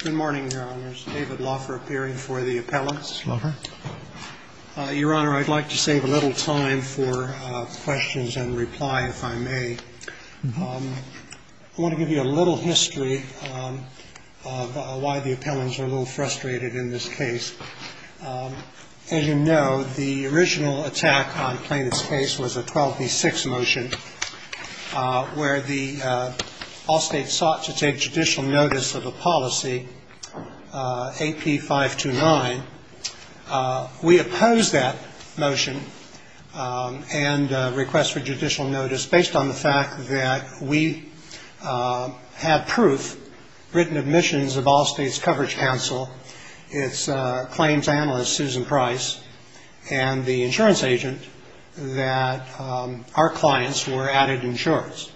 Good morning, Your Honors. David Loffer appearing for the appellants. Your Honor, I'd like to save a little time for questions and reply, if I may. I want to give you a little history of why the appellants are a little frustrated in this case. As you know, the original attack on Plaintiff's case was a 12b6 motion, where the Allstate sought to take judicial notice of a policy, AP 529. We opposed that motion and request for judicial notice based on the fact that we had proof, written admissions of Allstate's coverage counsel, its claims analyst, Susan Price, and the insurance agent, that our clients were added insurance.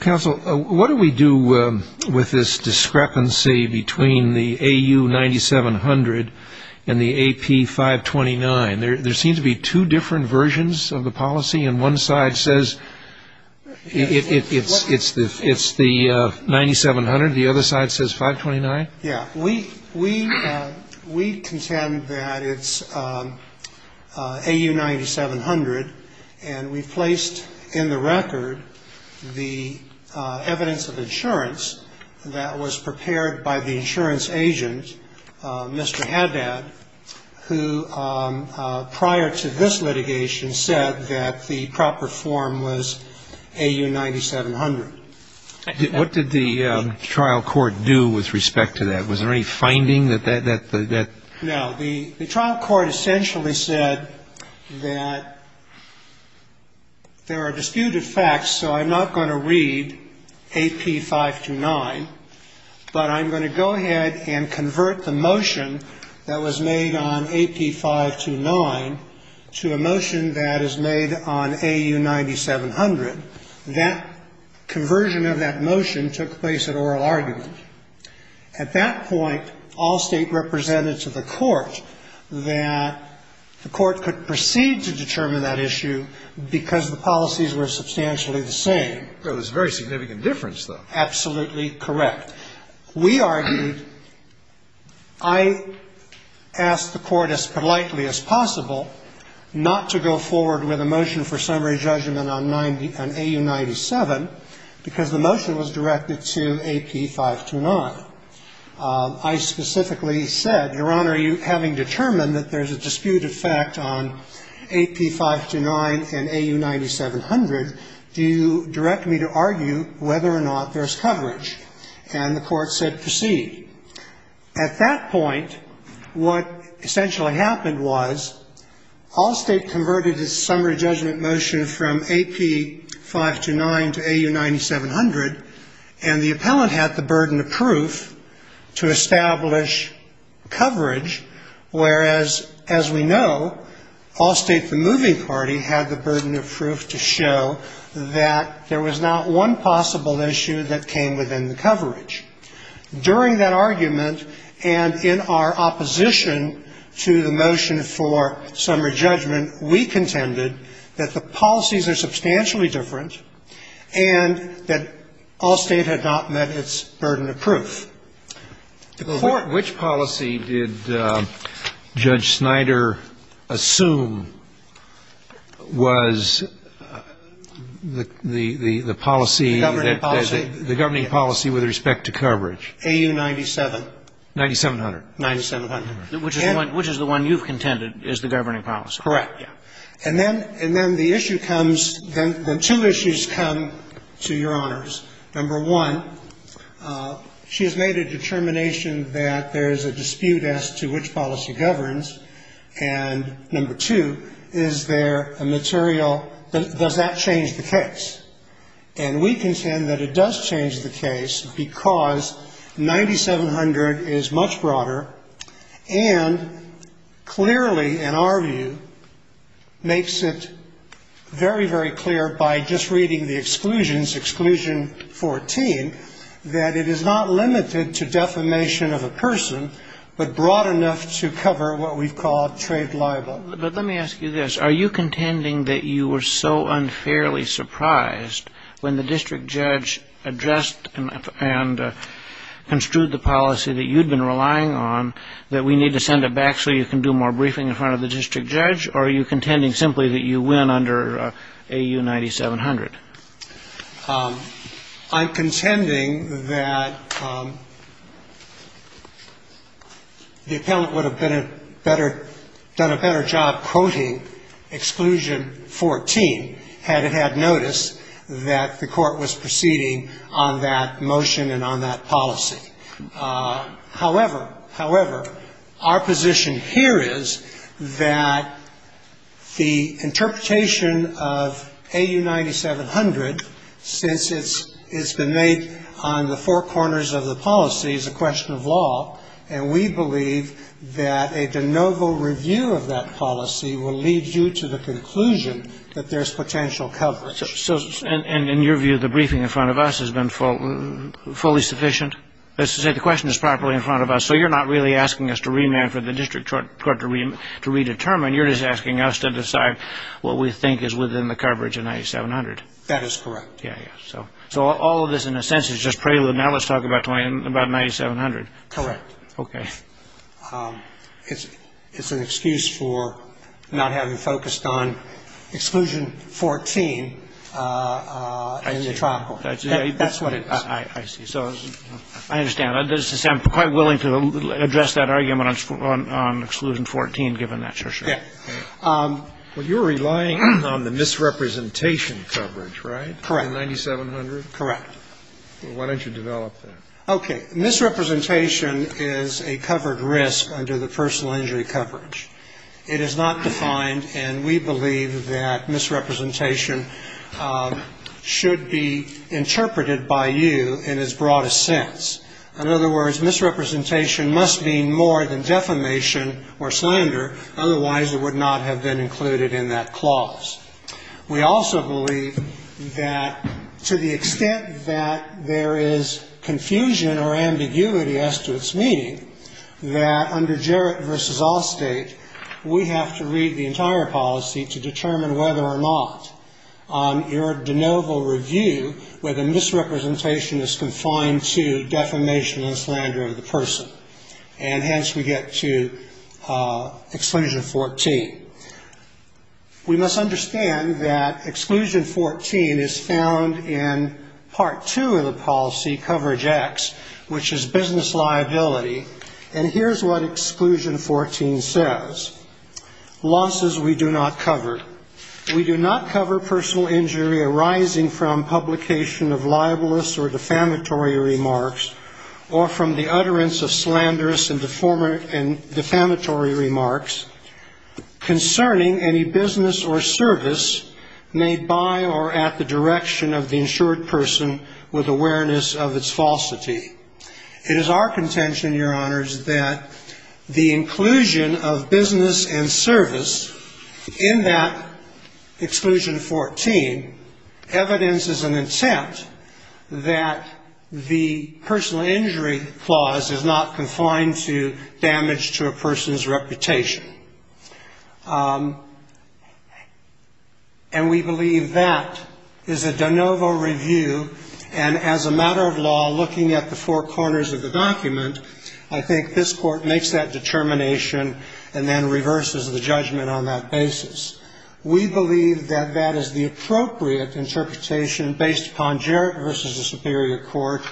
Counsel, what do we do with this discrepancy between the AU 9700 and the AP 529? There seems to be two different versions of the policy, and one side says it's the 9700, the other side says 529? Yeah. We contend that it's AU 9700, and we placed in the record the evidence of insurance that was prepared by the insurance agent, Mr. Haddad, who, prior to this litigation, said that the proper form was AU 9700. What did the trial court do with respect to that? Was there any finding that that? No. The trial court essentially said that there are disputed facts, so I'm not going to read AP 529, but I'm going to go ahead and convert the motion that was made on AP 529 to a motion that is made on AU 9700. That conversion of that motion took place at oral argument. At that point, Allstate represented to the court that the court could proceed to determine that issue because the policies were substantially the same. There was very significant difference, though. Absolutely correct. We argued, I asked the court as politely as possible not to go forward with a motion for summary judgment on AU 9700 because the motion was directed to AP 529. I specifically said, Your Honor, having determined that there's a disputed fact on AP 529 and AU 9700, do you direct me to argue whether or not there's coverage? And the court said proceed. At that point, what essentially happened was Allstate converted its summary judgment motion from AP 529 to AU 9700, and the appellant had the burden of proof to establish coverage, whereas, as we know, Allstate, the moving party, had the burden of proof to show that there was not one possible issue that came within the coverage. During that argument and in our opposition to the motion for summary judgment, we contended that the policies are substantially different and that Allstate had not met its burden of proof. Which policy did Judge Snyder assume was the policy that the governing policy with respect to coverage? AU 9700. 9700. 9700. Which is the one you've contended is the governing policy? Correct. And then the issue comes, then two issues come to Your Honors. Number one, she has made a determination that there is a dispute as to which policy governs, and number two, is there a material, does that change the case? And we contend that it does change the case because 9700 is much broader and clearly, in our view, makes it very, very clear by just reading the exclusions, exclusion 14, that it is not limited to defamation of a person, but broad enough to cover what we've called trade libel. But let me ask you this. Are you contending that you were so unfairly surprised when the district judge addressed and construed the policy that you'd been relying on that we need to send it back so you can do more briefing in front of the district judge, or are you contending simply that you win under AU 9700? I'm contending that the appellant would have been a better, done a better job quoting exclusion 14, had it had notice that the court was proceeding on that motion and on that policy. However, however, our position here is that the interpretation of AU 9700, since it's been made on the four corners of the policy, is a question of law, and we believe that a de novo review of that policy will lead you to the conclusion that there's potential coverage. So in your view, the briefing in front of us has been fully sufficient? Let's say the question is properly in front of us. So you're not really asking us to remand for the district court to redetermine. You're just asking us to decide what we think is within the coverage of 9700. That is correct. Yeah, yeah. So all of this, in a sense, is just prelude. Now let's talk about 9700. Correct. Okay. It's an excuse for not having focused on exclusion 14 in the trial court. That's what it is. I see. So I understand. I'm quite willing to address that argument on exclusion 14, given that. Sure, sure. Yeah. Well, you're relying on the misrepresentation coverage, right? Correct. In 9700? Correct. Why don't you develop that? Okay. Misrepresentation is a covered risk under the personal injury coverage. It is not defined, and we believe that misrepresentation should be interpreted by you in its broadest sense. In other words, misrepresentation must mean more than defamation or slander. Otherwise, it would not have been included in that clause. We also believe that to the extent that there is confusion or ambiguity as to its meaning, that under Jarrett v. Allstate, we have to read the entire policy to determine whether or not on your de novo review, whether misrepresentation is confined to defamation and slander of the person. And hence, we get to exclusion 14. We must understand that exclusion 14 is found in part two of the policy, coverage X, which is business liability. And here's what exclusion 14 says. Losses we do not cover. We do not cover personal injury arising from publication of libelous or defamatory remarks or from the utterance of slanderous and defamatory remarks concerning any business or service made by or at the direction of the insured person with awareness of its falsity. It is our contention, Your Honors, that the inclusion of business and service in that exclusion 14 evidences an intent that the personal injury clause is not confined to damage to a person's reputation. And we believe that is a de novo review. And as a matter of law, looking at the four corners of the document, I think this Court makes that determination and then reverses the judgment on that basis. We believe that that is the appropriate interpretation based upon Jarrett v. the Superior Court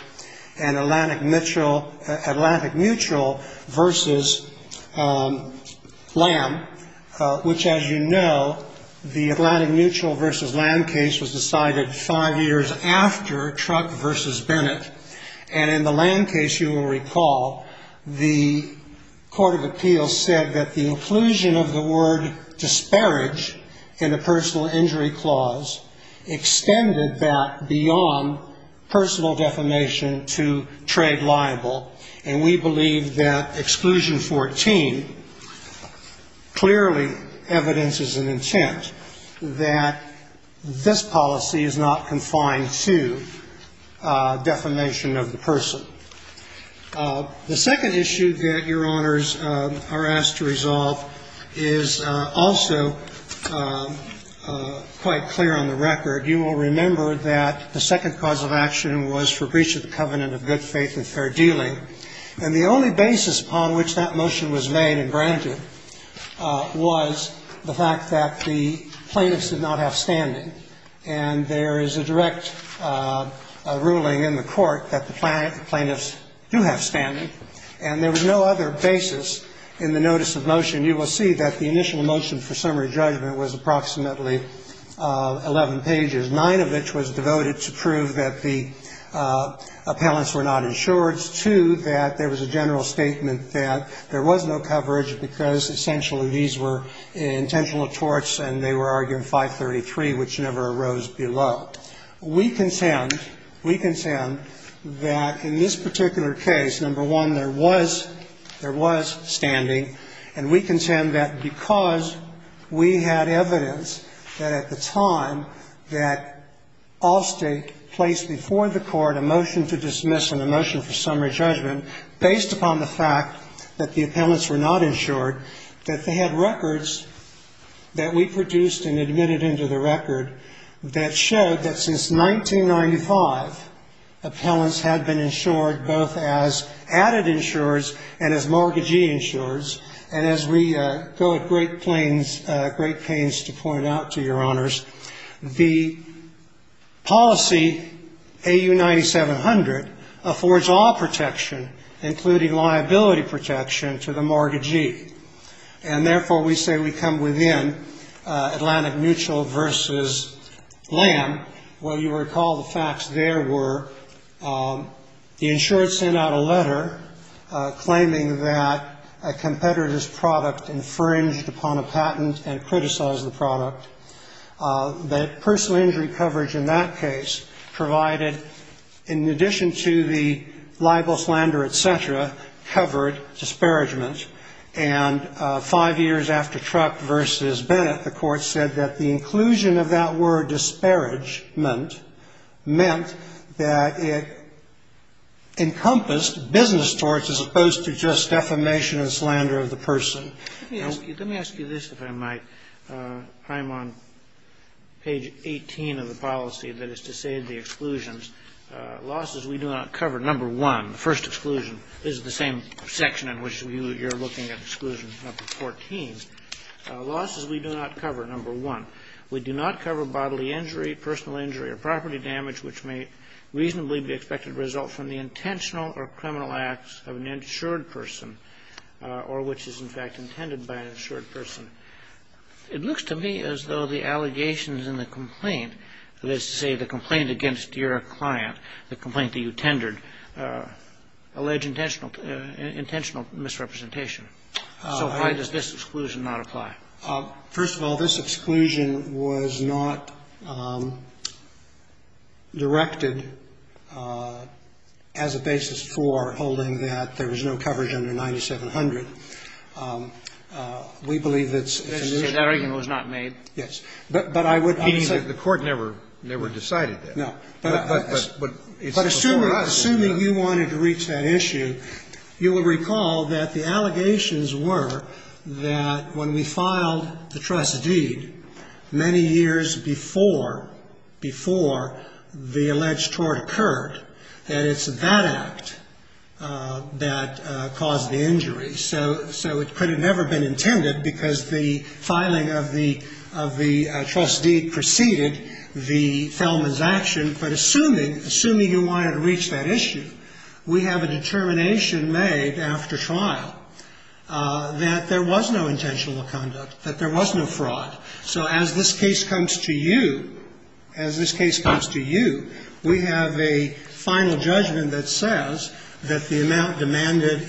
and Atlantic Mutual v. Lamb, which as you know, the Atlantic Mutual v. Lamb case was decided five years after Truck v. Bennett. And in the Lamb case, you will recall, the Court of Appeals said that the inclusion of the word disparage in the personal injury clause extended that beyond personal defamation to trade liable. And we believe that exclusion 14 clearly evidences an intent that this policy is not confined to defamation of the person. The second issue that Your Honors are asked to resolve is also quite clear on the record. You will remember that the second cause of action was for breach of the covenant of good faith and fair dealing. And the only basis upon which that motion was made and granted was the fact that the plaintiffs did not have standing. And there is a direct ruling in the Court that the plaintiffs do have standing. And there was no other basis in the notice of motion. You will see that the initial motion for summary judgment was approximately 11 pages, nine of which was devoted to prove that the appellants were not insured, two, that there was a general statement that there was no coverage because essentially these were intentional torts and they were arguing 533, which never arose below. We contend, we contend that in this particular case, number one, there was, there was standing. And we contend that because we had evidence that at the time that Allstate placed before the Court a motion to dismiss and a motion for summary judgment based upon the fact that the appellants were not insured, that they had records that we produced and admitted into the record that showed that since 1995, appellants had been insured both as mortgagee insurers. And as we go at great planes, great pains to point out to your honors, the policy AU 9700 affords all protection, including liability protection to the mortgagee. And therefore we say we come within Atlantic Mutual versus Lamb. Well, you recall the facts there were the insured sent out a letter claiming that a competitor's product infringed upon a patent and criticized the product. That personal injury coverage in that case provided, in addition to the libel, slander, et cetera, covered disparagement. And five years after Truk versus Bennett, the Court said that the disparagement meant that it encompassed business torts as opposed to just defamation and slander of the person. Let me ask you this, if I might. I'm on page 18 of the policy that is to say the exclusions. Losses we do not cover, number one. The first exclusion is the same section in which you're looking at exclusion number 14. Losses we do not cover, number one. We do not cover the injury, personal injury, or property damage which may reasonably be expected to result from the intentional or criminal acts of an insured person or which is, in fact, intended by an insured person. It looks to me as though the allegations in the complaint, that is to say, the complaint against your client, the complaint that you tendered, allege intentional misrepresentation. So why does this exclusion not apply? First of all, this exclusion was not directed as a basis for holding that there was no coverage under 9700. We believe that's an issue. That argument was not made. Yes. But I would say the Court never decided that. No. But assuming you wanted to reach that issue, you will recall that the allegations were that when we filed the trust deed many years before, before the alleged tort occurred, that it's that act that caused the injury. So it could have never been intended because the filing of the trust deed preceded the Thelman's action. But assuming you wanted to reach that issue, we have a determination made after trial that there was no intentional conduct, that there was no fraud. So as this case comes to you, as this case comes to you, we have a final judgment that says that the amount demanded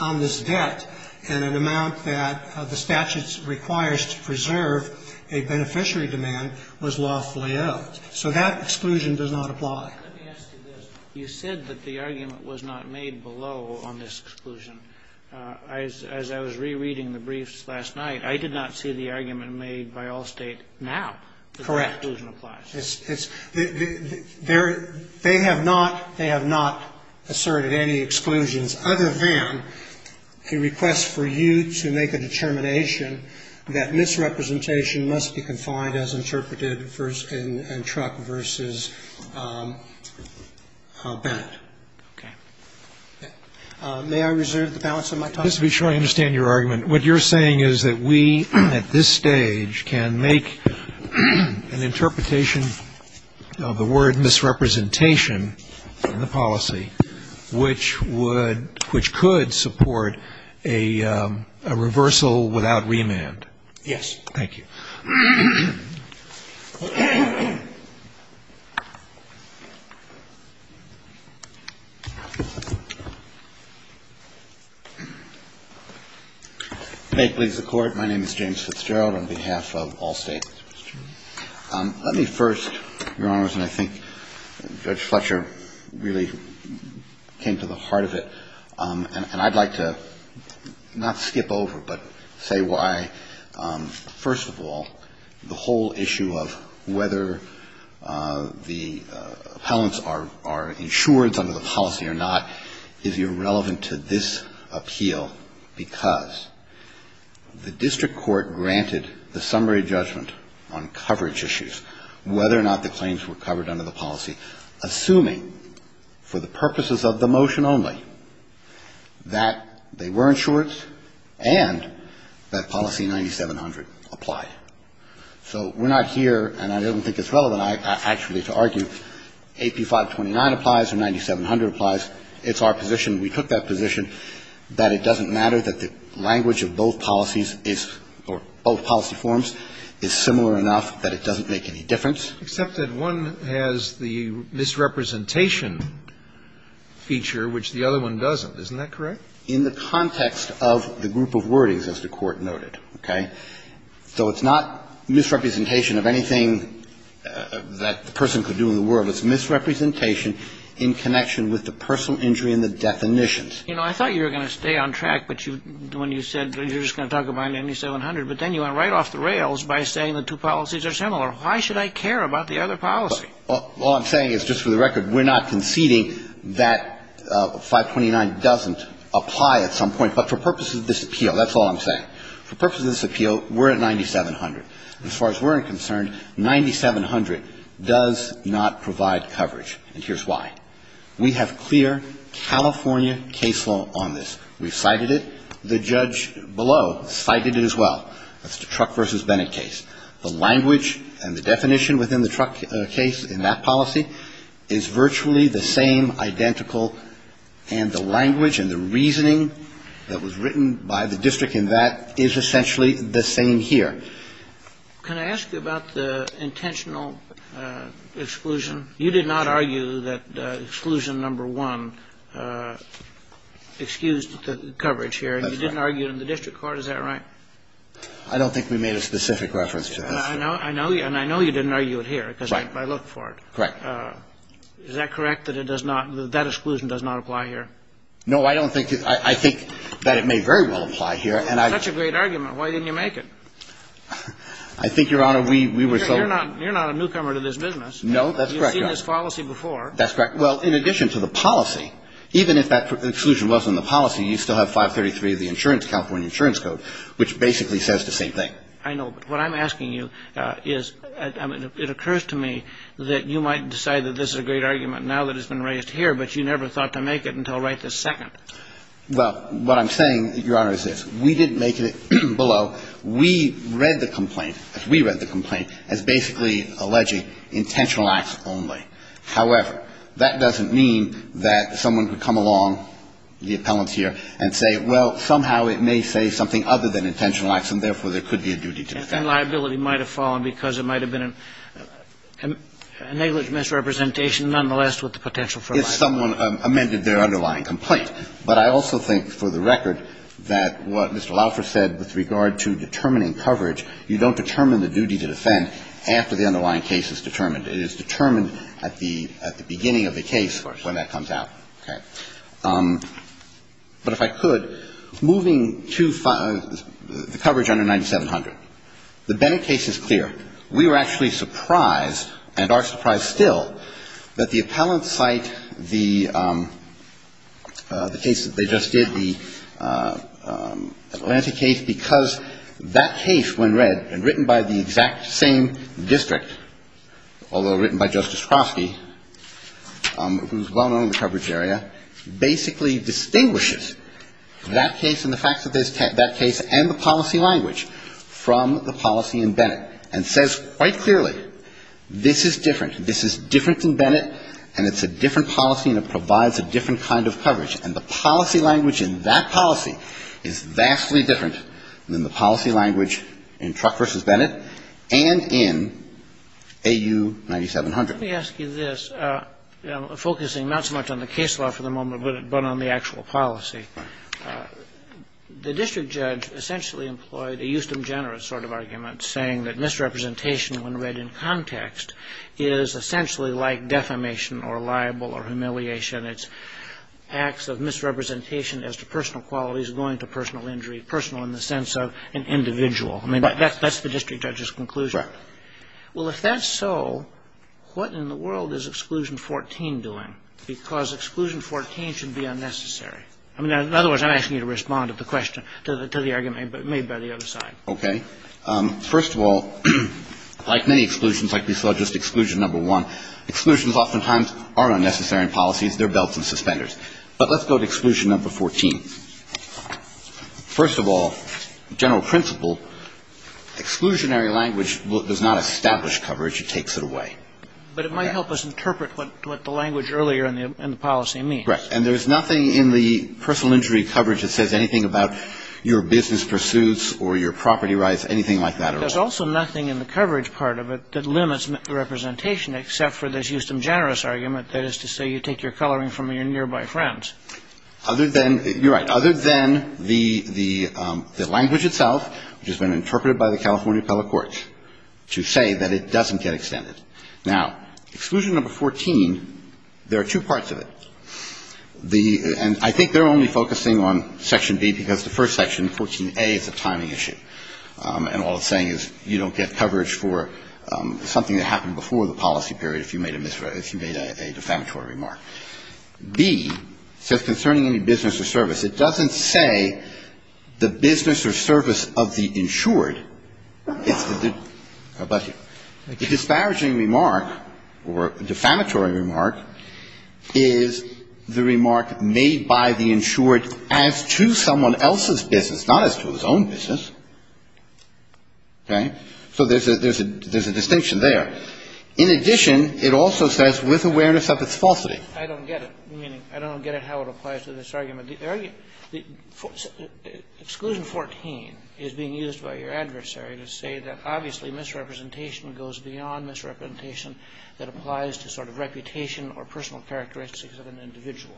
on this debt and an amount that the statute requires to preserve a beneficiary demand was lawfully owed. So that exclusion does not apply. Let me ask you this. You said that the argument was not made below on this exclusion. As I was rereading the briefs last night, I did not see the argument made by Allstate now that that exclusion applies. Correct. It's the they have not, they have not asserted any exclusions other than a request for you to make a determination that misrepresentation must be confined as interpreted in Truck v. Bennett. Okay. May I reserve the balance of my time? Just to be sure I understand your argument. What you're saying is that we at this stage can make an interpretation of the word misrepresentation in the policy which would, which could support a reversal without remand. Yes. Thank you. May it please the Court. My name is James Fitzgerald on behalf of Allstate. Let me first, Your Honors, and I think Judge Fletcher really came to the heart of it. And I'd like to not skip over, but say why, first of all, the whole issue of whether the appellants are insured under the policy or not is irrelevant to this appeal because the district court granted the summary judgment on coverage issues, whether or not the claims were covered under the policy, assuming for the purposes of the motion only, that they were insured and that policy 9700 applied. So we're not here, and I don't think it's relevant, actually, to argue AP 529 applies or 9700 applies. It's our position. We took that position that it doesn't matter that the language of both policies is, or both policy forms is similar enough that it doesn't make any difference. Except that one has the misrepresentation feature, which the other one doesn't. Isn't that correct? In the context of the group of wordings, as the Court noted, okay? So it's not misrepresentation of anything that the person could do in the world. It's misrepresentation in connection with the personal injury and the definitions. You know, I thought you were going to stay on track, but you, when you said you're just going to talk about 9700. But then you went right off the rails by saying the two policies are similar. Why should I care about the other policy? Well, all I'm saying is, just for the record, we're not conceding that 529 doesn't apply at some point. But for purposes of this appeal, that's all I'm saying. For purposes of this appeal, we're at 9700. As far as we're concerned, 9700 does not provide coverage. And here's why. We have clear California case law on this. We've cited it. The judge below cited it as well. That's the Truck v. Bennett case. The language and the definition within the truck case in that policy is virtually the same, identical. And the language and the reasoning that was written by the district in that is essentially the same here. Can I ask you about the intentional exclusion? You did not argue that exclusion number one excused the coverage here. You didn't argue it in the district court. Is that right? I don't think we made a specific reference to this. I know you didn't argue it here because I looked for it. Correct. Is that correct, that that exclusion does not apply here? No, I don't think it does. I think that it may very well apply here. That's such a great argument. Why didn't you make it? I think, Your Honor, we were so You're not a newcomer to this business. No, that's correct, Your Honor. You've seen this policy before. That's correct. Well, in addition to the policy, even if that exclusion wasn't in the policy, you still have 533 of the insurance, California Insurance Code, which basically says the same thing. I know. But what I'm asking you is, it occurs to me that you might decide that this is a great argument now that it's been raised here, but you never thought to make it until right this second. Well, what I'm saying, Your Honor, is this. We didn't make it below. We read the complaint, as we read the complaint, as basically alleging intentional acts only. However, that doesn't mean that someone could come along, the appellant here, and say, well, somehow it may say something other than intentional acts, and therefore, there could be a duty to defend. And liability might have fallen because it might have been a negligent misrepresentation nonetheless with the potential for a liability. If someone amended their underlying complaint. But I also think, for the record, that what Mr. Laffer said with regard to determining coverage, you don't determine the duty to defend after the underlying case is determined. It is determined at the beginning of the case when that comes out. Okay. But if I could, moving to the coverage under 9700, the Bennett case is clear. We were actually surprised, and are surprised still, that the appellant cite the case that they just did, the Atlantic case, because that case, when read, and written by the exact same district, although written by Justice Crosky, who is well-known in the coverage area, basically distinguishes that case and the policy language from the policy in Bennett, and says quite clearly, this is different. This is different than Bennett, and it's a different policy, and it provides a different kind of coverage. And the policy language in that policy is vastly different than the policy language in Truck v. Bennett and in AU 9700. Let me ask you this, focusing not so much on the case law for the moment, but on the actual policy. The district judge essentially employed a Euston-Generis sort of argument, saying that misrepresentation, when read in context, is essentially like defamation or libel or humiliation. It's acts of misrepresentation as to personal qualities going to personal injury, personal in the sense of an individual. I mean, that's the district judge's conclusion. Well, if that's so, what in the world is Exclusion 14 doing? Because Exclusion 14 should be unnecessary. I mean, in other words, I'm asking you to respond to the question, to the argument made by the other side. Okay. First of all, like many exclusions, like we saw just Exclusion Number 1, exclusions oftentimes are unnecessary in policies. They're belts and suspenders. But let's go to Exclusion Number 14. First of all, general principle, exclusionary language does not establish coverage. It takes it away. But it might help us interpret what the language earlier in the policy means. Right. And there's nothing in the personal injury coverage that says anything about your business pursuits or your property rights, anything like that. There's also nothing in the coverage part of it that limits representation except for this Euston-Generis argument, that is to say you take your coloring from your nearby friends. Other than, you're right, other than the language itself, which has been interpreted by the California Appellate Courts, to say that it doesn't get extended. Now, Exclusion Number 14, there are two parts of it. And I think they're only focusing on Section B because the first section, 14A, is a timing issue. And all it's saying is you don't get coverage for something that happened before the policy period if you made a defamatory remark. B says, concerning any business or service. It doesn't say the business or service of the insured. But the disparaging remark or defamatory remark is the remark made by the insured as to someone else's business, not as to his own business. Okay. So there's a distinction there. In addition, it also says, with awareness of its falsity. I don't get it. Meaning, I don't get it how it applies to this argument. The argument, the, Exclusion 14 is being used by your adversary to say that obviously misrepresentation goes beyond misrepresentation that applies to sort of reputation or personal characteristics of an individual.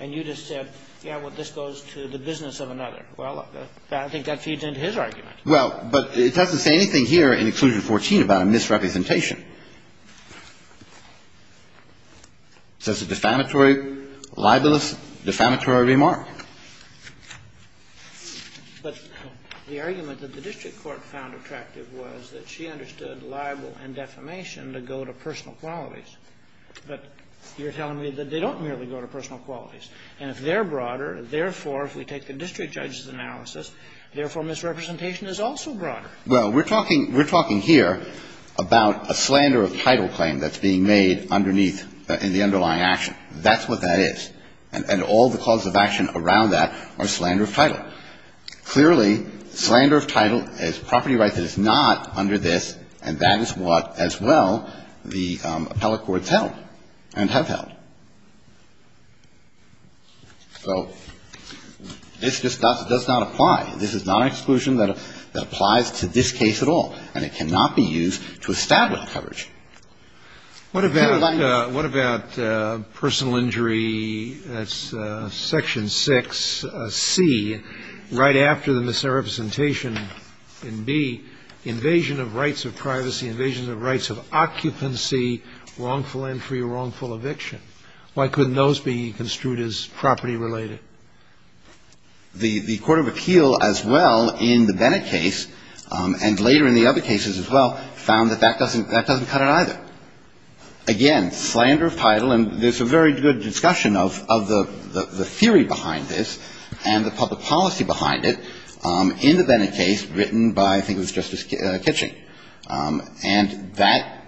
And you just said, yeah, well, this goes to the business of another. Well, I think that feeds into his argument. Well, but it doesn't say anything here in Exclusion 14 about a misrepresentation. So it's a defamatory, libelous, defamatory remark. But the argument that the district court found attractive was that she understood libel and defamation to go to personal qualities. But you're telling me that they don't merely go to personal qualities. And if they're broader, therefore, if we take the district judge's analysis, therefore, misrepresentation is also broader. Well, we're talking here about a slander of title claim that's being made underneath in the underlying action. That's what that is. And all the causes of action around that are slander of title. Clearly, slander of title is property right that is not under this, and that is what, as well, the appellate courts held and have held. So this does not apply. This is not an exclusion that applies to this case at all. And it cannot be used to establish coverage. And I like this. What about personal injury, that's Section 6C, right after the misrepresentation in B, invasion of rights of privacy, invasion of rights of occupancy, wrongful entry, wrongful eviction. Why couldn't those be construed as property-related? The Court of Appeal, as well, in the Bennett case, and later in the other cases as well, found that that doesn't cut it either. Again, slander of title, and there's a very good discussion of the theory behind this and the public policy behind it in the Bennett case written by, I think it was Justice Kitching. And that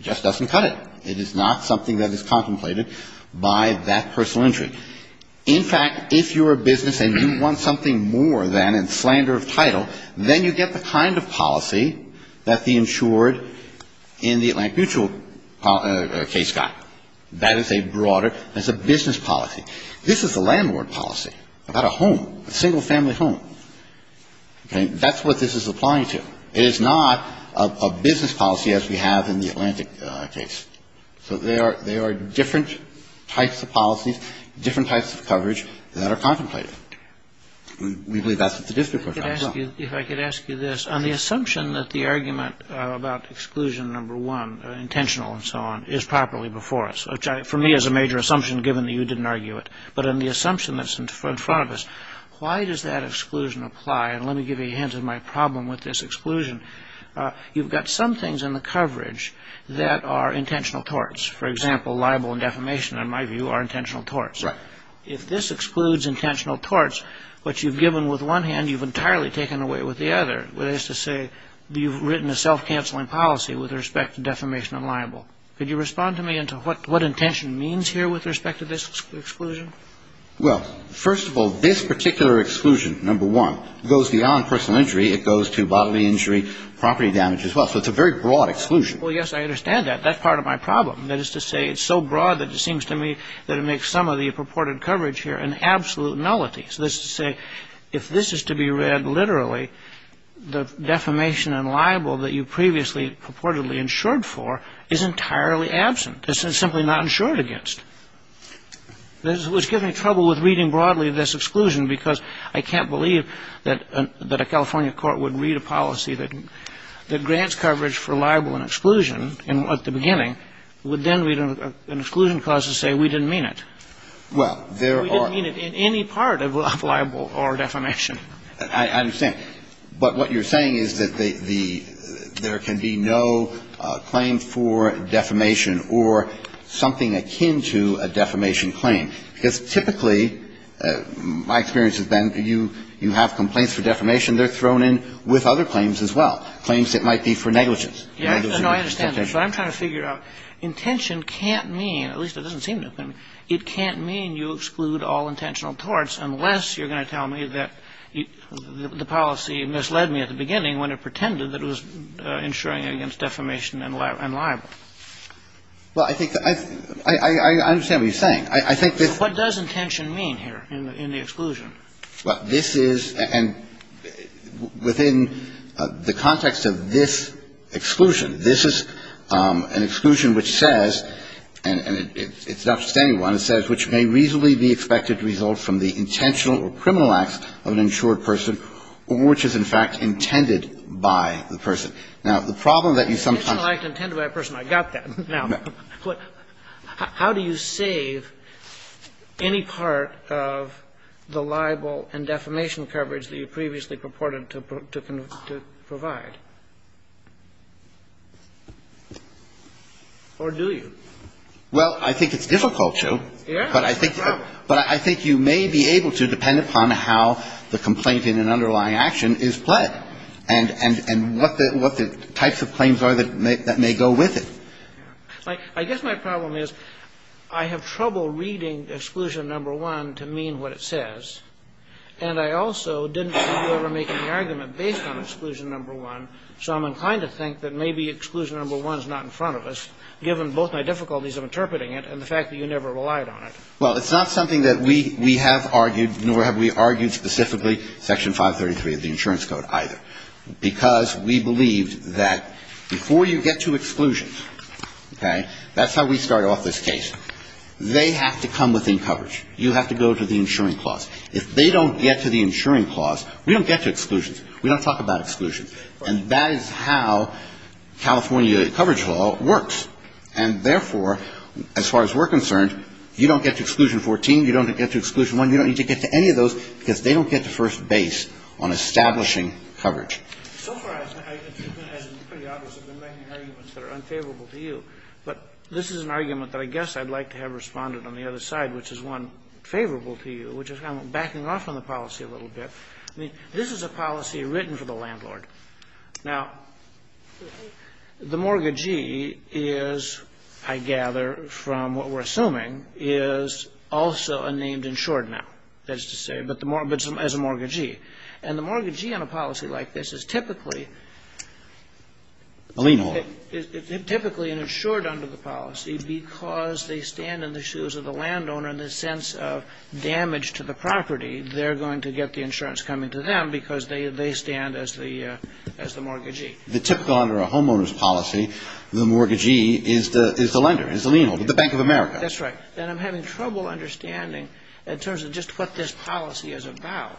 just doesn't cut it. It is not something that is contemplated by that personal injury. In fact, if you're a business and you want something more than a slander of title, then you get the kind of policy that the insured in the Atlantic Mutual case got. That is a broader, that's a business policy. This is a landlord policy about a home, a single-family home. Okay? That's what this is applying to. It is not a business policy as we have in the Atlantic case. So there are different types of policies, different types of coverage that are contemplated. We believe that's what the district court found, as well. If I could ask you this, on the assumption that the argument about exclusion number one, intentional and so on, is properly before us, which for me is a major assumption given that you didn't argue it, but on the assumption that's in front of us, why does that exclusion apply? And let me give you a hint of my problem with this exclusion. You've got some things in the coverage that are intentional torts. For example, libel and defamation, in my view, are intentional torts. Right. If this excludes intentional torts, what you've given with one hand, you've entirely taken away with the other, that is to say, you've written a self-canceling policy with respect to defamation and libel. Could you respond to me into what intention means here with respect to this exclusion? Well, first of all, this particular exclusion, number one, goes beyond personal injury, property damage as well. So it's a very broad exclusion. Well, yes, I understand that. That's part of my problem. That is to say, it's so broad that it seems to me that it makes some of the purported coverage here an absolute nullity. So that's to say, if this is to be read literally, the defamation and libel that you previously purportedly insured for is entirely absent. This is simply not insured against. This was giving me trouble with reading broadly this exclusion because I can't believe that a California court would read a policy that grants coverage for libel and exclusion at the beginning, would then read an exclusion clause to say we didn't mean it. Well, there are We didn't mean it in any part of libel or defamation. I understand. But what you're saying is that there can be no claim for defamation or something akin to a defamation claim. Because typically, my experience has been you have complaints for defamation. They're thrown in with other claims as well, claims that might be for negligence. No, I understand that. But I'm trying to figure out, intention can't mean, at least it doesn't seem to, it can't mean you exclude all intentional torts unless you're going to tell me that the policy misled me at the beginning when it pretended that it was insuring against defamation and libel. Well, I think that I understand what you're saying. I think this What does intention mean here in the exclusion? Well, this is, and within the context of this exclusion, this is an exclusion which says, and it's not just any one, it says, which may reasonably be expected to result from the intentional or criminal acts of an insured person, which is in fact intended by the person. Now, the problem that you sometimes Intentional act intended by a person, I got that. Now, how do you save any part of the libel and defamation coverage that you previously purported to provide? Or do you? Well, I think it's difficult to. Yeah. But I think you may be able to, depending upon how the complaint in an underlying action is pled, and what the types of claims are that may go with it. I guess my problem is I have trouble reading exclusion number one to mean what it says. And I also didn't see you ever making the argument based on exclusion number one. So I'm inclined to think that maybe exclusion number one is not in front of us, given both my difficulties of interpreting it and the fact that you never relied on it. Well, it's not something that we have argued, nor have we argued specifically Section 533 of the Insurance Code either, because we believed that before you get to exclusions, okay, that's how we started off this case. They have to come within coverage. You have to go to the insuring clause. If they don't get to the insuring clause, we don't get to exclusions. We don't talk about exclusions. And that is how California coverage law works. And therefore, as far as we're concerned, you don't get to exclusion 14, you don't get to exclusion 1, you don't need to get to any of those, because they don't get to first base on establishing coverage. So far, as has been pretty obvious, I've been making arguments that are unfavorable to you, but this is an argument that I guess I'd like to have responded on the other side, which is one favorable to you, which is I'm backing off on the policy a little bit. I mean, this is a policy written for the landlord. Now, the mortgagee is, I gather, from what we're assuming, is also a named insured now, that is to say, but as a mortgagee. And the mortgagee on a policy like this is typically an insured under the policy because they stand in the shoes of the landowner in the sense of damage to the property. They're going to get the insurance coming to them because they stand as the mortgagee. The typical under a homeowner's policy, the mortgagee is the lender, is the lien holder, the Bank of America. That's right. And I'm having trouble understanding, in terms of just what this policy is about,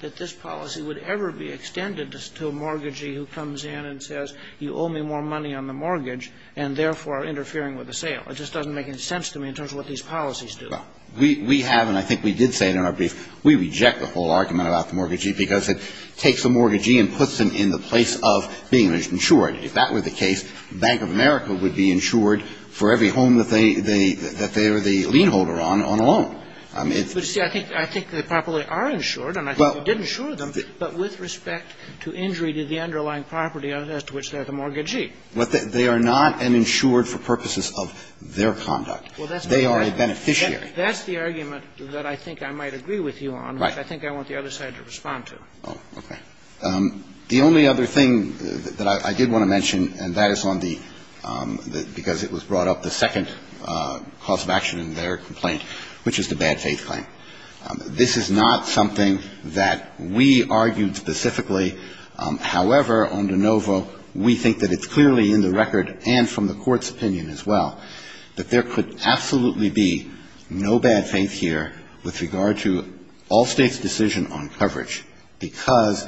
that this policy would ever be extended to a mortgagee who comes in and says, you owe me more money on the mortgage, and therefore are interfering with the sale. It just doesn't make any sense to me in terms of what these policies do. Well, we have, and I think we did say it in our brief, we reject the whole argument about the mortgagee because it takes a mortgagee and puts them in the place of being insured. If that were the case, Bank of America would be insured for every home that they are the lien holder on on a loan. But, see, I think they probably are insured, and I think we did insure them, but with respect to injury to the underlying property as to which they're the mortgagee. But they are not insured for purposes of their conduct. They are a beneficiary. That's the argument that I think I might agree with you on, which I think I want the other side to respond to. Oh, okay. The only other thing that I did want to mention, and that is on the – because it was brought up, the second cause of action in their complaint, which is the bad faith claim. This is not something that we argued specifically. However, on de novo, we think that it's clearly in the record and from the court's opinion as well that there could absolutely be no bad faith here with regard to all states' decision on coverage because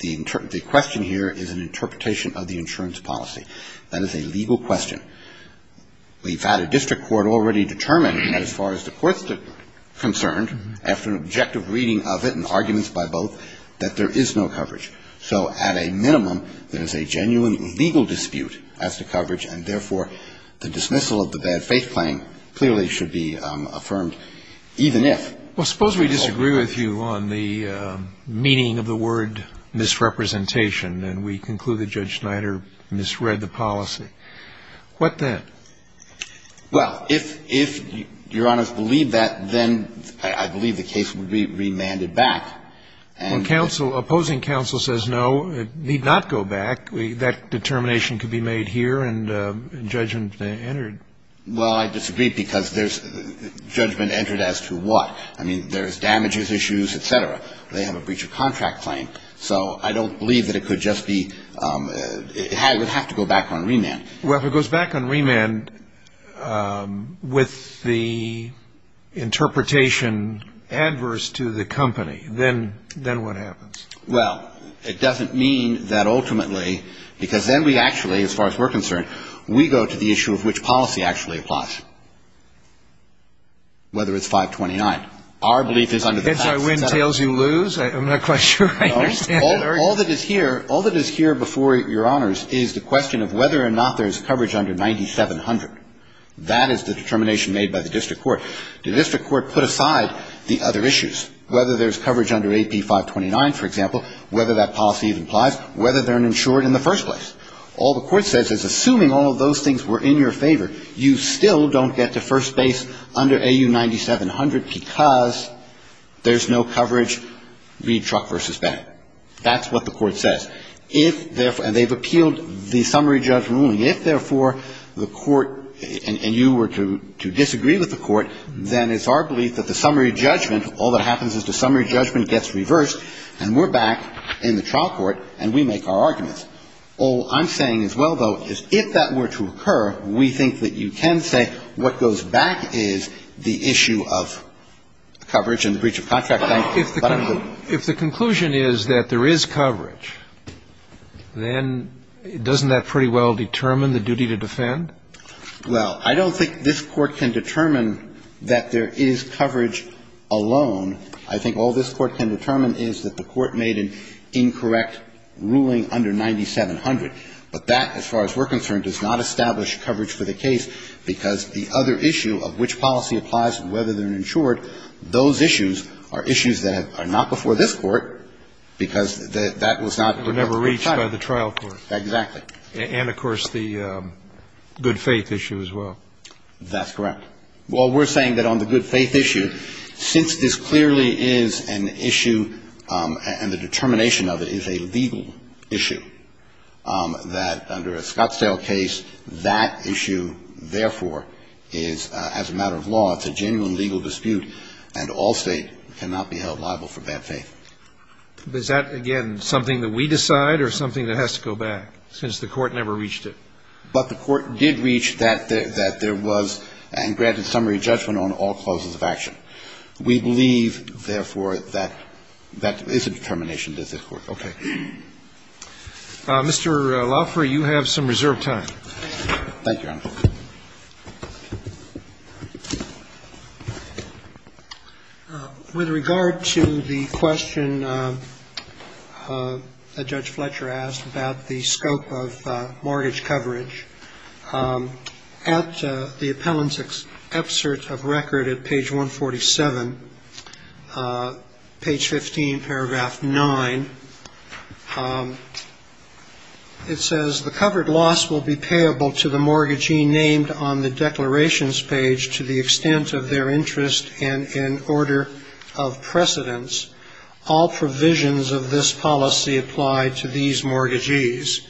the question here is an interpretation of the insurance policy. That is a legal question. We've had a district court already determine, as far as the court's concerned, after an objective reading of it and arguments by both, that there is no coverage. So, at a minimum, there is a genuine legal dispute as to coverage, and therefore, the dismissal of the bad faith claim clearly should be affirmed, even if. Well, suppose we disagree with you on the meaning of the word misrepresentation, and we conclude that Judge Snyder misread the policy. What then? Well, if Your Honor's believe that, then I believe the case would be remanded back. When opposing counsel says no, it need not go back. That determination could be made here and judgment entered. Well, I disagree because there's – judgment entered as to what? I mean, there's damages issues, et cetera. They have a breach of contract claim. So, I don't believe that it could just be – it would have to go back on remand. Well, if it goes back on remand with the interpretation adverse to the company, then what happens? Well, it doesn't mean that ultimately – because then we actually, as far as we're concerned, we go to the issue of which policy actually applies, whether it's 529. Our belief is under the – Heads, I win. Tails, you lose. I'm not quite sure. All that is here – all that is here before Your Honors is the question of whether or not there's coverage under 9700. That is the determination made by the district court. The district court put aside the other issues. Whether there's coverage under AP 529, for example, whether that policy even applies, whether they're insured in the first place. All the court says is assuming all of those things were in your favor, you still don't get to first base under AU 9700 because there's no coverage. Read truck versus bag. That's what the court says. If – and they've appealed the summary judgment ruling. If, therefore, the court – and you were to disagree with the court, then it's our belief that the summary judgment – all that happens is the summary judgment gets reversed and we're back in the trial court and we make our arguments. All I'm saying as well, though, is if that were to occur, we think that you can say what goes back is the issue of coverage and the breach of contract. But I'm clear. If the conclusion is that there is coverage, then doesn't that pretty well determine the duty to defend? Well, I don't think this Court can determine that there is coverage alone. I think all this Court can determine is that the Court made an incorrect ruling under 9700. But that, as far as we're concerned, does not establish coverage for the case because the other issue of which policy applies and whether they're insured, those issues are issues that are not before this Court because that was not – And were never reached by the trial court. Exactly. And, of course, the good faith issue as well. That's correct. Well, we're saying that on the good faith issue, since this clearly is an issue and the determination of it is a legal issue, that under a Scottsdale case, that issue, therefore, is, as a matter of law, it's a genuine legal dispute and all state cannot be held liable for bad faith. Is that, again, something that we decide or something that has to go back since the Court never reached it? But the Court did reach that there was and granted summary judgment on all clauses of action. We believe, therefore, that that is a determination of this Court. Okay. Mr. Laffer, you have some reserved time. Thank you, Your Honor. With regard to the question that Judge Fletcher asked about the scope of mortgage mortgages, page 15, paragraph 9, it says, the covered loss will be payable to the mortgagee named on the declarations page to the extent of their interest and in order of precedence. All provisions of this policy apply to these mortgagees.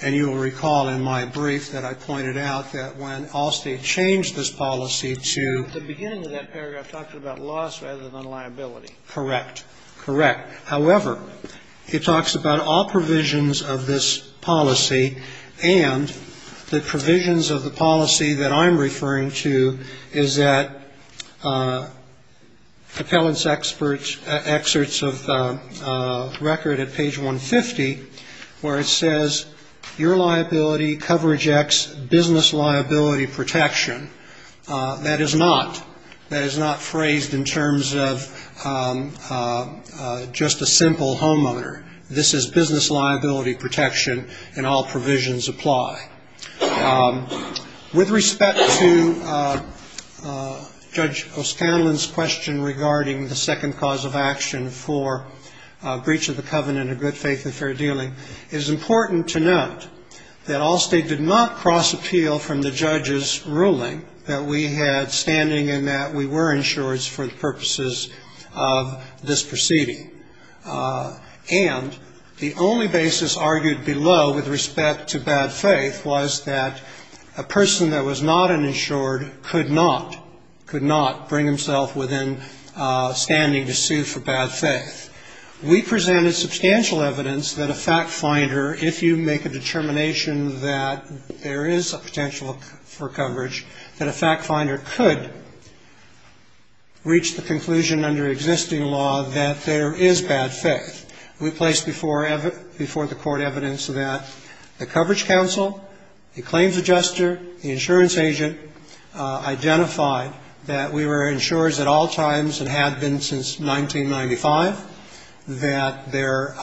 And you will recall in my brief that I pointed out that when Allstate changed this policy to... At the beginning of that paragraph, it talked about loss rather than liability. Correct. Correct. However, it talks about all provisions of this policy and the provisions of the policy that I'm referring to is that appellant's experts' excerpts of record at page 150, where it says, your liability, coverage X, business liability protection. That is not phrased in terms of just a simple homeowner. This is business liability protection and all provisions apply. With respect to Judge O'Scanlan's question regarding the second cause of action for breach of the covenant of good faith and fair dealing, it is important to note that Allstate did not cross appeal from the judge's ruling that we had standing in that we were insured for the purposes of this proceeding. And the only basis argued below with respect to bad faith was that a person that was not an insured could not, could not bring himself within standing to sue for bad faith. We presented substantial evidence that a fact finder, if you make a determination that there is a potential for coverage, that a fact finder could reach the conclusion under existing law that there is bad faith. We placed before the court evidence that the coverage counsel, the claims adjuster, the insurance agent, identified that we were insurers at all times and have been since 1995, that there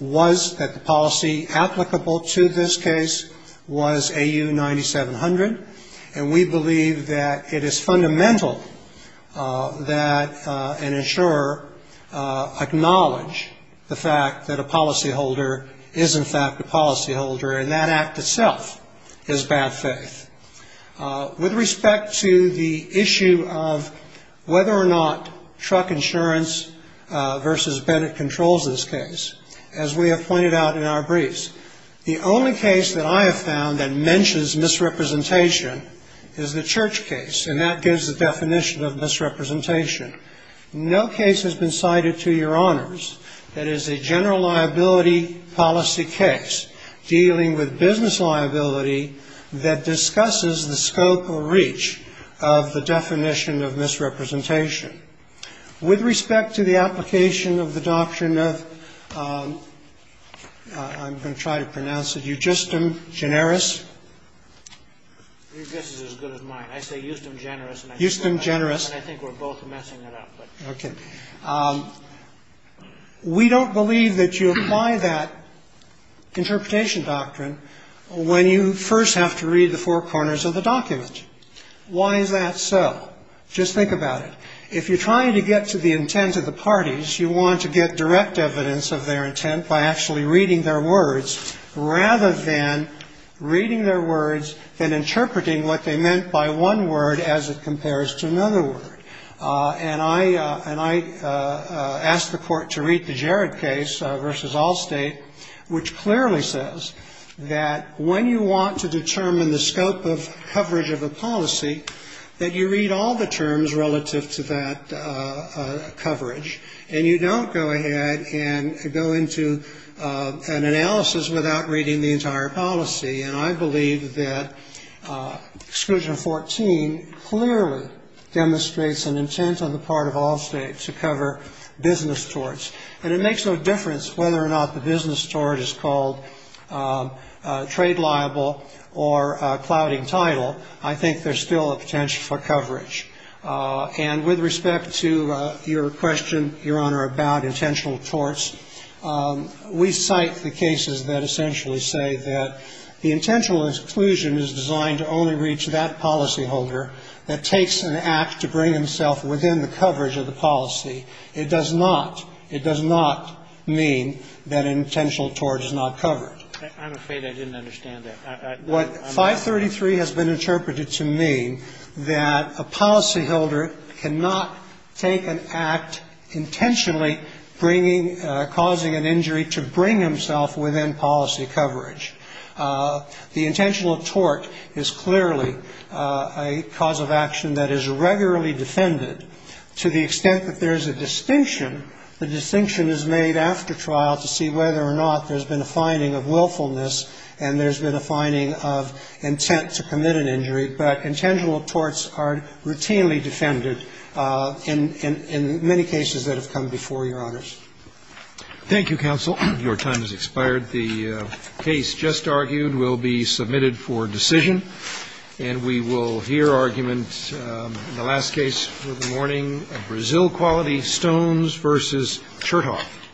was, that the policy applicable to this case was AU 9700, and we believe that it is fundamental that an insurer acknowledge the fact that a policyholder is in fact a policyholder, and that act itself is bad faith. With respect to the issue of whether or not truck insurance versus Bennett controls this case, as we have pointed out in our briefs, the only case that I have found that mentions misrepresentation is the Church case, and that gives the definition of misrepresentation. No case has been cited to your honors that is a general liability policy case dealing with business liability that discusses the scope or reach of the definition of misrepresentation. With respect to the application of the doctrine of, I'm going to try to pronounce it, eugistum generis. Eugistum generis. We don't believe that you apply that interpretation doctrine when you first have to read the four corners of the document. Why is that so? Just think about it. If you're trying to get to the intent of the parties, you want to get direct evidence of their intent by actually reading their words rather than reading their words than interpreting what they meant by one word as it compares to another word. And I asked the Court to read the Jarrett case versus Allstate, which clearly says that when you want to determine the scope of coverage of a policy, that you read all the terms relative to that coverage, and you don't go ahead and go into an analysis without reading the entire policy. And I believe that exclusion 14 clearly demonstrates an intent on the part of Allstate to cover business torts. And it makes no difference whether or not the business tort is called trade liable or clouding title. I think there's still a potential for coverage. And with respect to your question, Your Honor, about intentional torts, we cite the cases that essentially say that the intentional exclusion is designed to only reach that policyholder that takes an act to bring himself within the coverage of the policy. It does not. It does not mean that an intentional tort is not covered. I'm afraid I didn't understand that. What 533 has been interpreted to mean that a policyholder cannot take an act intentionally bringing causing an injury to bring himself within policy coverage. The intentional tort is clearly a cause of action that is regularly defended to the extent that there is a distinction. The distinction is made after trial to see whether or not there's been a finding of willfulness and there's been a finding of intent to commit an injury. But intentional torts are routinely defended in many cases that have come before you, Your Honor. Thank you, Counsel. Your time has expired. The case just argued will be submitted for decision. And we will hear argument in the last case for the morning of Brazil Quality, Stones v. Chertoff.